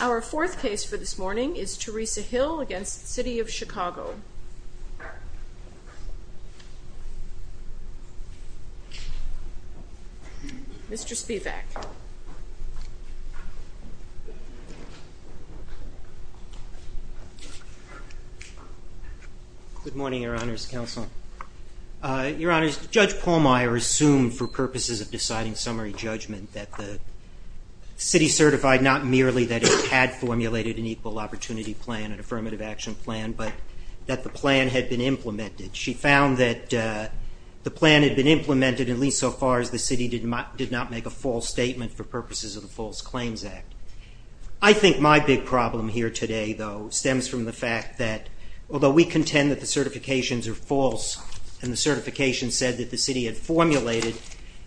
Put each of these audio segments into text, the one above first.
Our fourth case for this morning is Theresa Hill v. City of Chicago. Mr. Spivak. Good morning, Your Honor's Counsel. Your Honor, Judge Pallmeyer assumed for purposes of deciding summary judgment that the city certified not merely that it had formulated an equal opportunity plan, an affirmative action plan, but that the plan had been implemented. She found that the plan had been implemented at least so far as the city did not make a false statement for purposes of the False Claims Act. I think my big problem here today, though, stems from the fact that although we contend that the certifications are false and the certification said that the city had formulated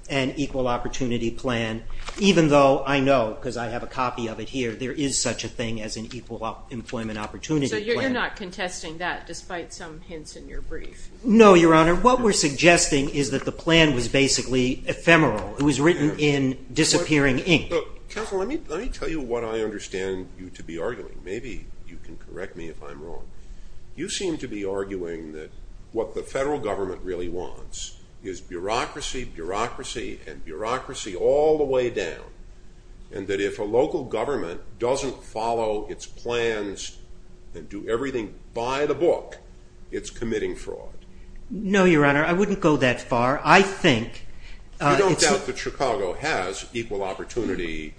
an equal opportunity plan, even though I know, because I have a copy of it here, there is such a thing as an equal employment opportunity plan. So you're not contesting that, despite some hints in your brief? No, Your Honor. What we're suggesting is that the plan was basically ephemeral. It was written in disappearing ink. Counsel, let me tell you what I understand you to be arguing. Maybe you can correct me if I'm wrong. You seem to be arguing that what the federal government really wants is bureaucracy, bureaucracy, and bureaucracy all the way down, and that if a local government doesn't follow its plans and do everything by the book, it's committing fraud. No, Your Honor, I wouldn't go that far. I think... You don't doubt that Chicago has equal opportunity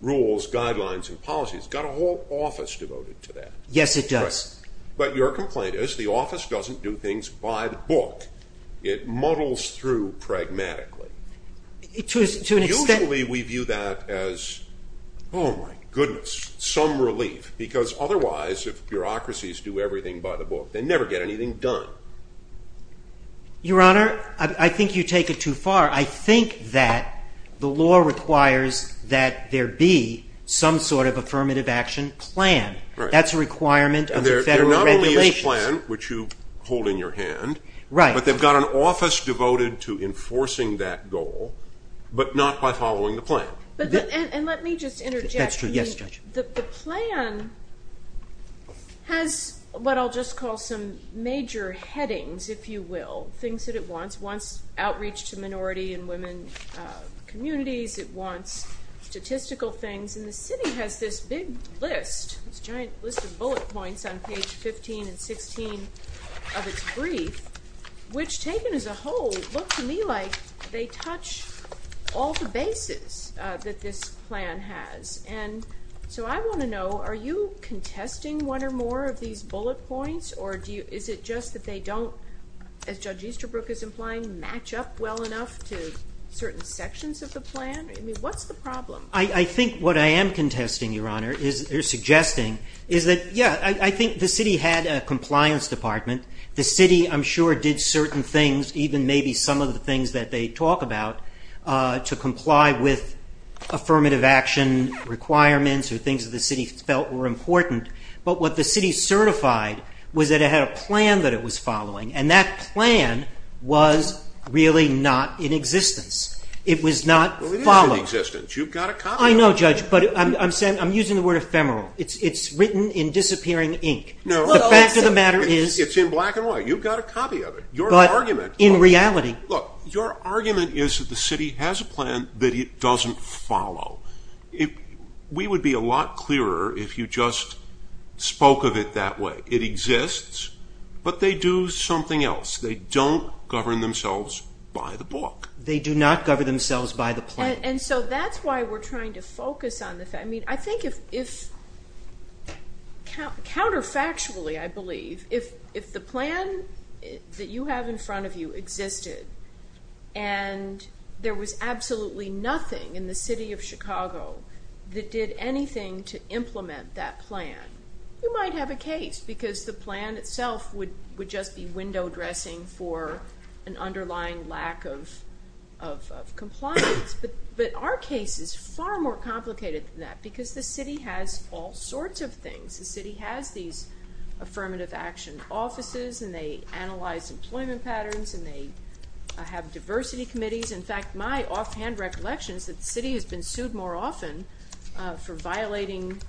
rules, guidelines, and policies. It's got a whole office devoted to that. Yes, it does. But your complaint is the office doesn't do things by the book. It muddles through pragmatically. Usually we view that as, oh, my goodness, some relief, because otherwise if bureaucracies do everything by the book, they never get anything done. Your Honor, I think you take it too far. I think that the law requires that there be some sort of affirmative action plan. That's a requirement of the federal regulations. And they're not only a plan, which you hold in your hand, but they've got an office devoted to enforcing that goal, but not by following the plan. And let me just interject. That's true. Yes, Judge. The plan has what I'll just call some major headings, if you will, things that it wants. It wants outreach to minority and women communities. It wants statistical things. And the city has this big list, this giant list of bullet points on page 15 and 16 of its brief, which taken as a whole, look to me like they touch all the bases that this plan has. And so I want to know, are you contesting one or more of these bullet points, or is it just that they don't, as Judge Easterbrook is implying, match up well enough to certain sections of the plan? I mean, what's the problem? I think what I am contesting, Your Honor, or suggesting is that, yeah, I think the city had a compliance department. The city, I'm sure, did certain things, even maybe some of the things that they talk about, to comply with affirmative action requirements or things that the city felt were important. But what the city certified was that it had a plan that it was following, and that plan was really not in existence. It was not followed. It's not in existence. You've got a copy of it. I know, Judge, but I'm using the word ephemeral. It's written in disappearing ink. The fact of the matter is— It's in black and white. You've got a copy of it. Your argument— But in reality— Look, your argument is that the city has a plan that it doesn't follow. We would be a lot clearer if you just spoke of it that way. It exists, but they do something else. They don't govern themselves by the book. They do not govern themselves by the plan. And so that's why we're trying to focus on the fact— I mean, I think if—counterfactually, I believe, if the plan that you have in front of you existed and there was absolutely nothing in the city of Chicago that did anything to implement that plan, you might have a case because the plan itself would just be window dressing for an underlying lack of compliance. But our case is far more complicated than that because the city has all sorts of things. The city has these affirmative action offices, and they analyze employment patterns, and they have diversity committees. In fact, my offhand recollection is that the city has been sued more often for violating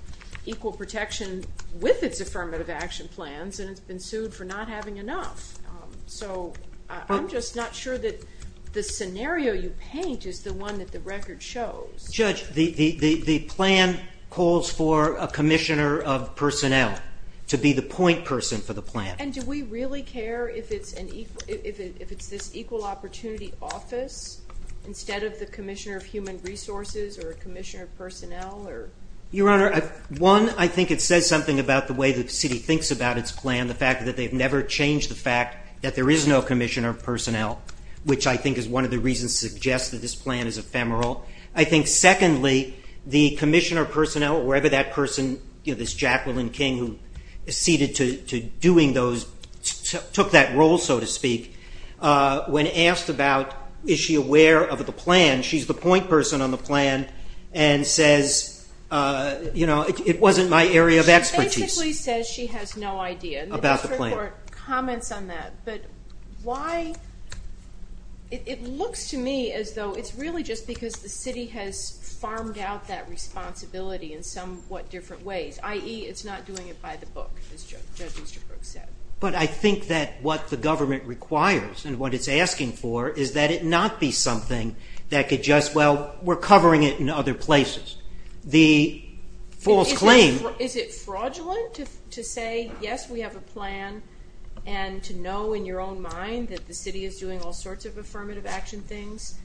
equal protection with its affirmative action plans, and it's been sued for not having enough. So I'm just not sure that the scenario you paint is the one that the record shows. Judge, the plan calls for a commissioner of personnel to be the point person for the plan. And do we really care if it's this equal opportunity office instead of the commissioner of human resources or commissioner of personnel? Your Honor, one, I think it says something about the way the city thinks about its plan, the fact that they've never changed the fact that there is no commissioner of personnel, which I think is one of the reasons to suggest that this plan is ephemeral. I think, secondly, the commissioner of personnel, or wherever that person, this Jacqueline King, who acceded to doing those, took that role, so to speak, when asked about is she aware of the plan, she's the point person on the plan and says, you know, it wasn't my area of expertise. She basically says she has no idea. About the plan. The district court comments on that, but why? It looks to me as though it's really just because the city has farmed out that responsibility in somewhat different ways, i.e. it's not doing it by the book, as Judge Easterbrook said. But I think that what the government requires and what it's asking for is that it not be something that could just, well, we're covering it in other places. The false claim. Is it fraudulent to say, yes, we have a plan, and to know in your own mind that the city is doing all sorts of affirmative action things?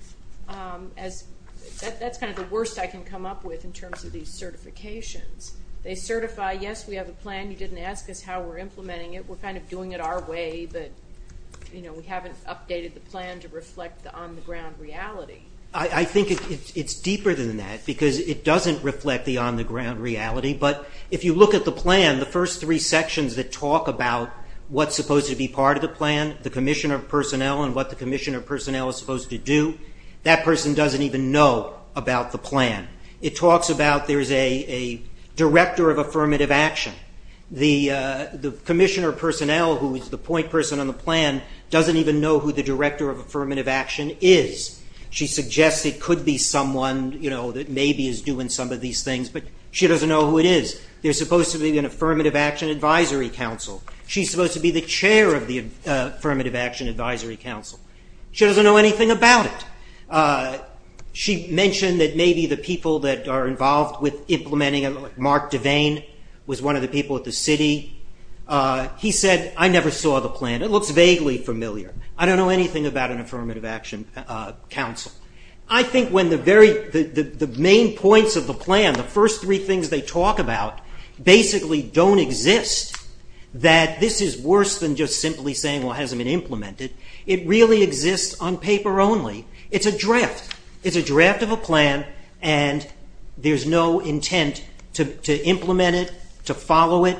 That's kind of the worst I can come up with in terms of these certifications. They certify, yes, we have a plan. You didn't ask us how we're implementing it. We're kind of doing it our way, but, you know, we haven't updated the plan to reflect the on-the-ground reality. I think it's deeper than that, because it doesn't reflect the on-the-ground reality. But if you look at the plan, the first three sections that talk about what's supposed to be part of the plan, the commissioner of personnel and what the commissioner of personnel is supposed to do, that person doesn't even know about the plan. It talks about there's a director of affirmative action. The commissioner of personnel, who is the point person on the plan, doesn't even know who the director of affirmative action is. She suggests it could be someone, you know, that maybe is doing some of these things, but she doesn't know who it is. There's supposed to be an affirmative action advisory council. She's supposed to be the chair of the affirmative action advisory council. She doesn't know anything about it. She mentioned that maybe the people that are involved with implementing it, like Mark Devane was one of the people at the city. He said, I never saw the plan. It looks vaguely familiar. I don't know anything about an affirmative action council. I think when the main points of the plan, the first three things they talk about, basically don't exist, that this is worse than just simply saying, well, it hasn't been implemented. It really exists on paper only. It's a draft. It's a draft of a plan, and there's no intent to implement it, to follow it.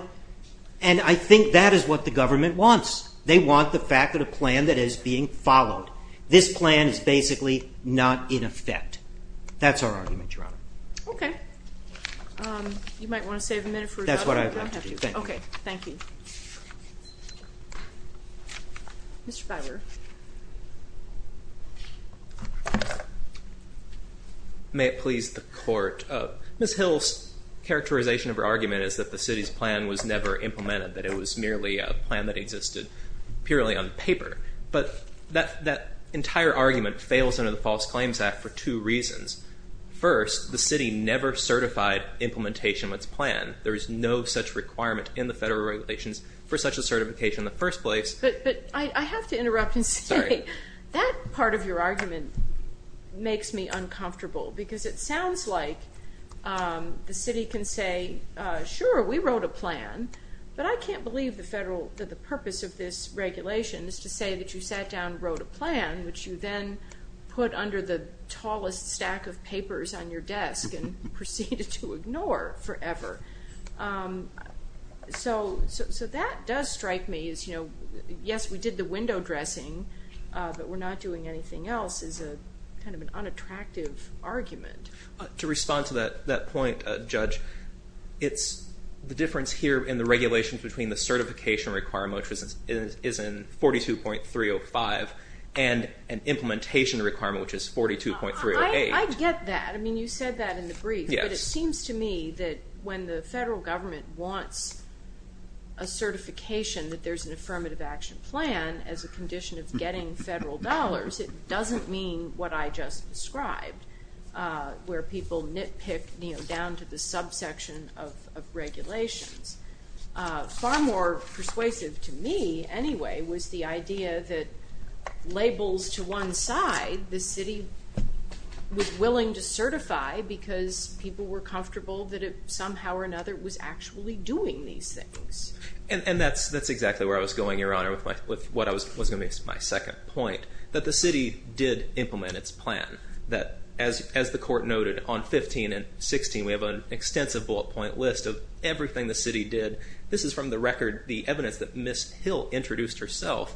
And I think that is what the government wants. They want the fact that a plan that is being followed, this plan is basically not in effect. That's our argument, Your Honor. Okay. You might want to save a minute for a second. That's what I'd like to do. Thank you. Okay. Thank you. Mr. Filer. May it please the court. Ms. Hill's characterization of her argument is that the city's plan was never purely on paper. But that entire argument fails under the False Claims Act for two reasons. First, the city never certified implementation of its plan. There is no such requirement in the federal regulations for such a certification in the first place. But I have to interrupt and say that part of your argument makes me uncomfortable because it sounds like the city can say, sure, we wrote a plan, but I can't believe the purpose of this regulation is to say that you sat down and wrote a plan, which you then put under the tallest stack of papers on your desk and proceeded to ignore forever. So that does strike me as, yes, we did the window dressing, but we're not doing anything else, is kind of an unattractive argument. To respond to that point, Judge, it's the difference here in the regulations between the certification requirement, which is in 42.305, and an implementation requirement, which is 42.308. I get that. I mean, you said that in the brief. Yes. But it seems to me that when the federal government wants a certification that there's an affirmative action plan as a condition of getting federal dollars, it doesn't mean what I just described, where people nitpick down to the subsection of regulations. Far more persuasive to me, anyway, was the idea that labels to one side the city was willing to certify because people were comfortable that it somehow or another was actually doing these things. And that's exactly where I was going, Your Honor, with what was going to be my second point, that the city did implement its plan. That, as the court noted on 15 and 16, we have an extensive bullet point list of everything the city did. This is from the record, the evidence that Ms. Hill introduced herself.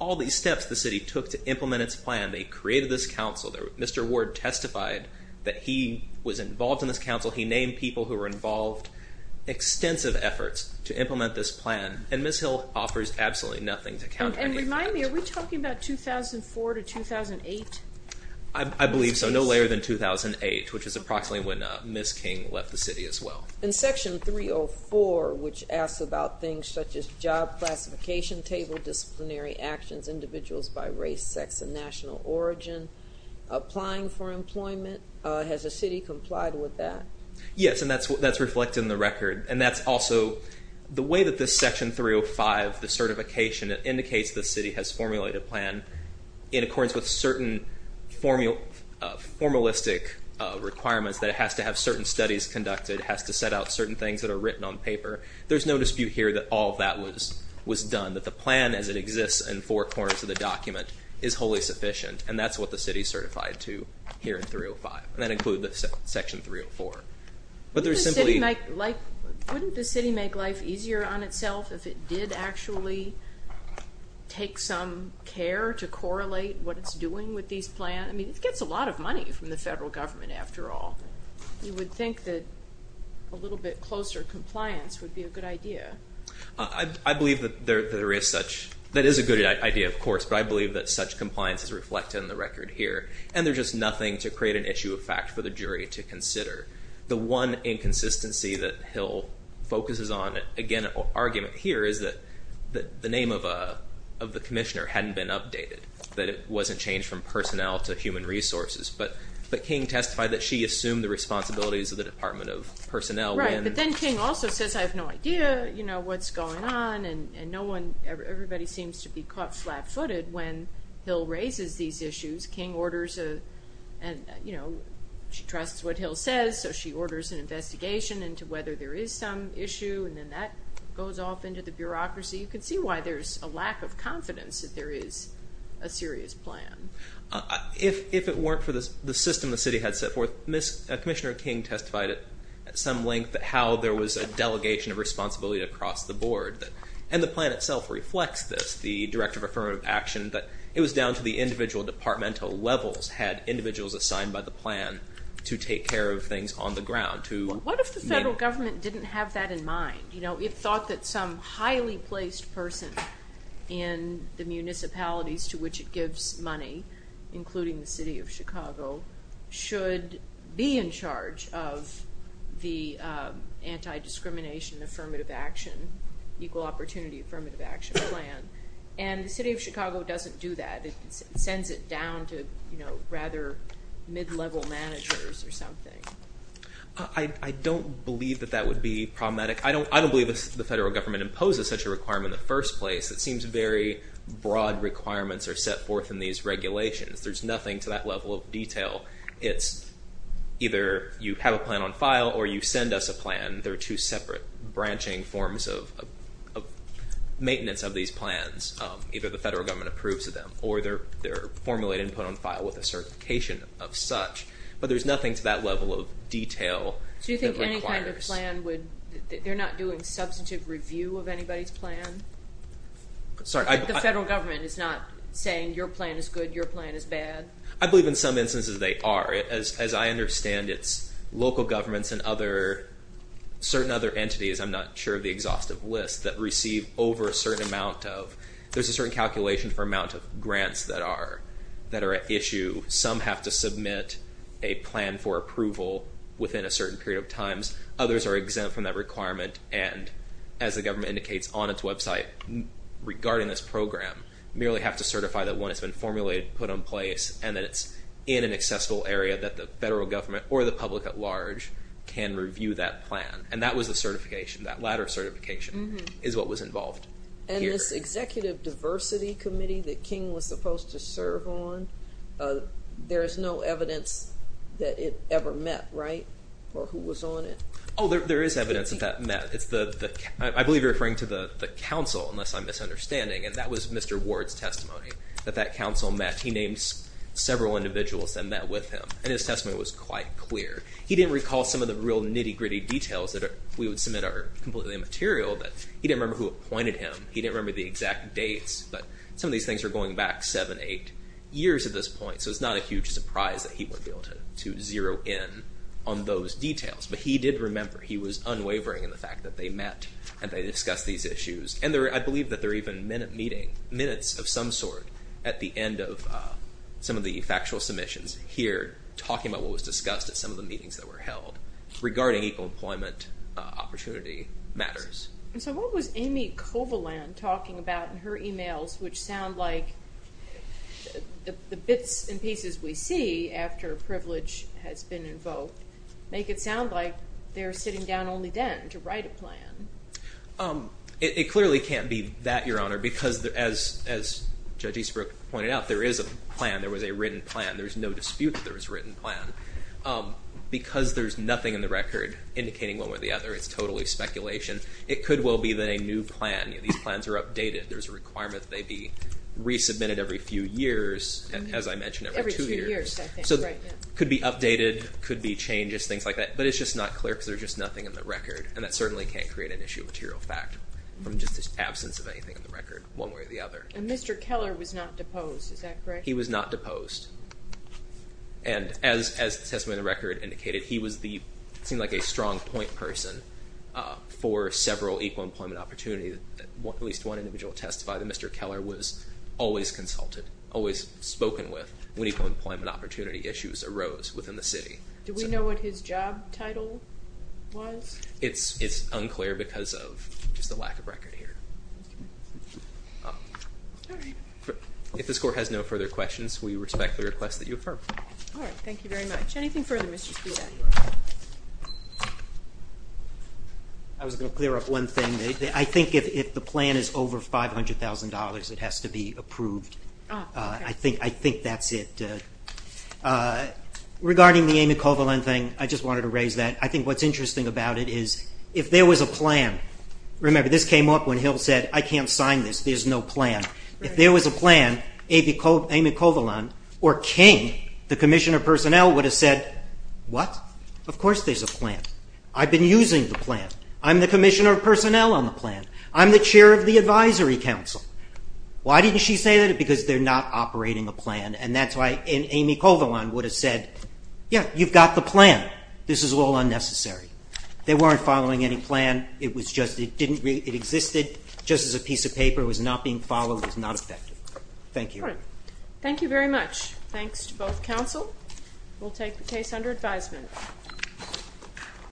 All these steps the city took to implement its plan, they created this council. Mr. Ward testified that he was involved in this council. He named people who were involved. Extensive efforts to implement this plan. And Ms. Hill offers absolutely nothing to counter any of that. And remind me, are we talking about 2004 to 2008? I believe so, no later than 2008, which is approximately when Ms. King left the city as well. In Section 304, which asks about things such as job classification, table disciplinary actions, individuals by race, sex, and national origin, applying for employment, has the city complied with that? Yes, and that's reflected in the record. And that's also the way that this Section 305, the certification, indicates the city has formulated a plan in accordance with certain formalistic requirements that it has to have certain studies conducted, has to set out certain things that are written on paper. There's no dispute here that all of that was done, that the plan as it exists in four corners of the document is wholly sufficient. And that's what the city is certified to here in 305. And that includes Section 304. Wouldn't the city make life easier on itself if it did actually take some care to correlate what it's doing with these plans? I mean, it gets a lot of money from the federal government after all. You would think that a little bit closer compliance would be a good idea. I believe that there is such. That is a good idea, of course, but I believe that such compliance is reflected in the record here. And there's just nothing to create an issue of fact for the jury to consider. The one inconsistency that Hill focuses on, again, an argument here is that the name of the commissioner hadn't been updated, that it wasn't changed from personnel to human resources. But King testified that she assumed the responsibilities of the Department of Personnel. Right, but then King also says, I have no idea what's going on, and everybody seems to be caught flat-footed when Hill raises these issues. King orders a, you know, she trusts what Hill says, so she orders an investigation into whether there is some issue, and then that goes off into the bureaucracy. You can see why there's a lack of confidence that there is a serious plan. If it weren't for the system the city had set forth, Commissioner King testified at some length how there was a delegation of responsibility across the board. And the plan itself reflects this, the Director of Affirmative Action, that it was down to the individual departmental levels, had individuals assigned by the plan to take care of things on the ground. What if the federal government didn't have that in mind? You know, it thought that some highly placed person in the municipalities to which it gives money, including the city of Chicago, should be in charge of the Anti-Discrimination Affirmative Action, Equal Opportunity Affirmative Action Plan. And the city of Chicago doesn't do that. It sends it down to, you know, rather mid-level managers or something. I don't believe that that would be problematic. I don't believe the federal government imposes such a requirement in the first place. It seems very broad requirements are set forth in these regulations. There's nothing to that level of detail. It's either you have a plan on file or you send us a plan. There are two separate branching forms of maintenance of these plans. Either the federal government approves of them or they're formulated and put on file with a certification of such. But there's nothing to that level of detail that requires. So you think any kind of plan would be that they're not doing substantive review of anybody's plan? Sorry? The federal government is not saying your plan is good, your plan is bad? I believe in some instances they are. As I understand it, local governments and certain other entities, I'm not sure of the exhaustive list, that receive over a certain amount of, there's a certain calculation for amount of grants that are at issue. Some have to submit a plan for approval within a certain period of time. Others are exempt from that requirement. And as the government indicates on its website regarding this program, merely have to certify that one has been formulated, put in place, and that it's in an accessible area that the federal government or the public at large can review that plan. And that was the certification. That latter certification is what was involved here. And this Executive Diversity Committee that King was supposed to serve on, there is no evidence that it ever met, right? Or who was on it? Oh, there is evidence that that met. I believe you're referring to the council, unless I'm misunderstanding. And that was Mr. Ward's testimony, that that council met. He named several individuals that met with him. And his testimony was quite clear. He didn't recall some of the real nitty-gritty details that we would submit are completely immaterial. He didn't remember who appointed him. He didn't remember the exact dates. But some of these things are going back seven, eight years at this point. So it's not a huge surprise that he wouldn't be able to zero in on those details. But he did remember he was unwavering in the fact that they met and they discussed these issues. And I believe that there are even minutes of some sort at the end of some of the factual submissions here talking about what was discussed at some of the meetings that were held regarding equal employment opportunity matters. And so what was Amy Kovalan talking about in her emails which sound like the bits and pieces we see after privilege has been invoked make it sound like they're sitting down only then to write a plan? It clearly can't be that, Your Honor, because as Judge Eastbrook pointed out, there is a plan. There was a written plan. There's no dispute that there was a written plan. Because there's nothing in the record indicating one way or the other, it's totally speculation, it could well be that a new plan, these plans are updated, there's a requirement that they be resubmitted every few years, as I mentioned, every two years. Every few years, I think, right. So it could be updated, could be changes, things like that. But it's just not clear because there's just nothing in the record. And that certainly can't create an issue of material fact from just the absence of anything in the record one way or the other. And Mr. Keller was not deposed. Is that correct? He was not deposed. And as the testimony in the record indicated, he seemed like a strong point person for several equal employment opportunities. At least one individual testified that Mr. Keller was always consulted, always spoken with when equal employment opportunity issues arose within the city. Do we know what his job title was? It's unclear because of just the lack of record here. If this Court has no further questions, we respectfully request that you affirm. All right. Thank you very much. Anything further, Mr. Spivak? I was going to clear up one thing. I think if the plan is over $500,000, it has to be approved. I think that's it. Regarding the Amy Colvin thing, I just wanted to raise that. I think what's interesting about it is if there was a plan, remember this came up when Hill said, I can't sign this, there's no plan. If there was a plan, Amy Colvin or King, the Commissioner of Personnel, would have said, what? Of course there's a plan. I've been using the plan. I'm the Commissioner of Personnel on the plan. I'm the Chair of the Advisory Council. Why didn't she say that? Because they're not operating a plan. And that's why Amy Colvin would have said, yeah, you've got the plan. This is all unnecessary. They weren't following any plan. It existed just as a piece of paper. It was not being followed. It was not effective. Thank you. Thank you very much. Thanks to both counsel. We'll take the case under advisement.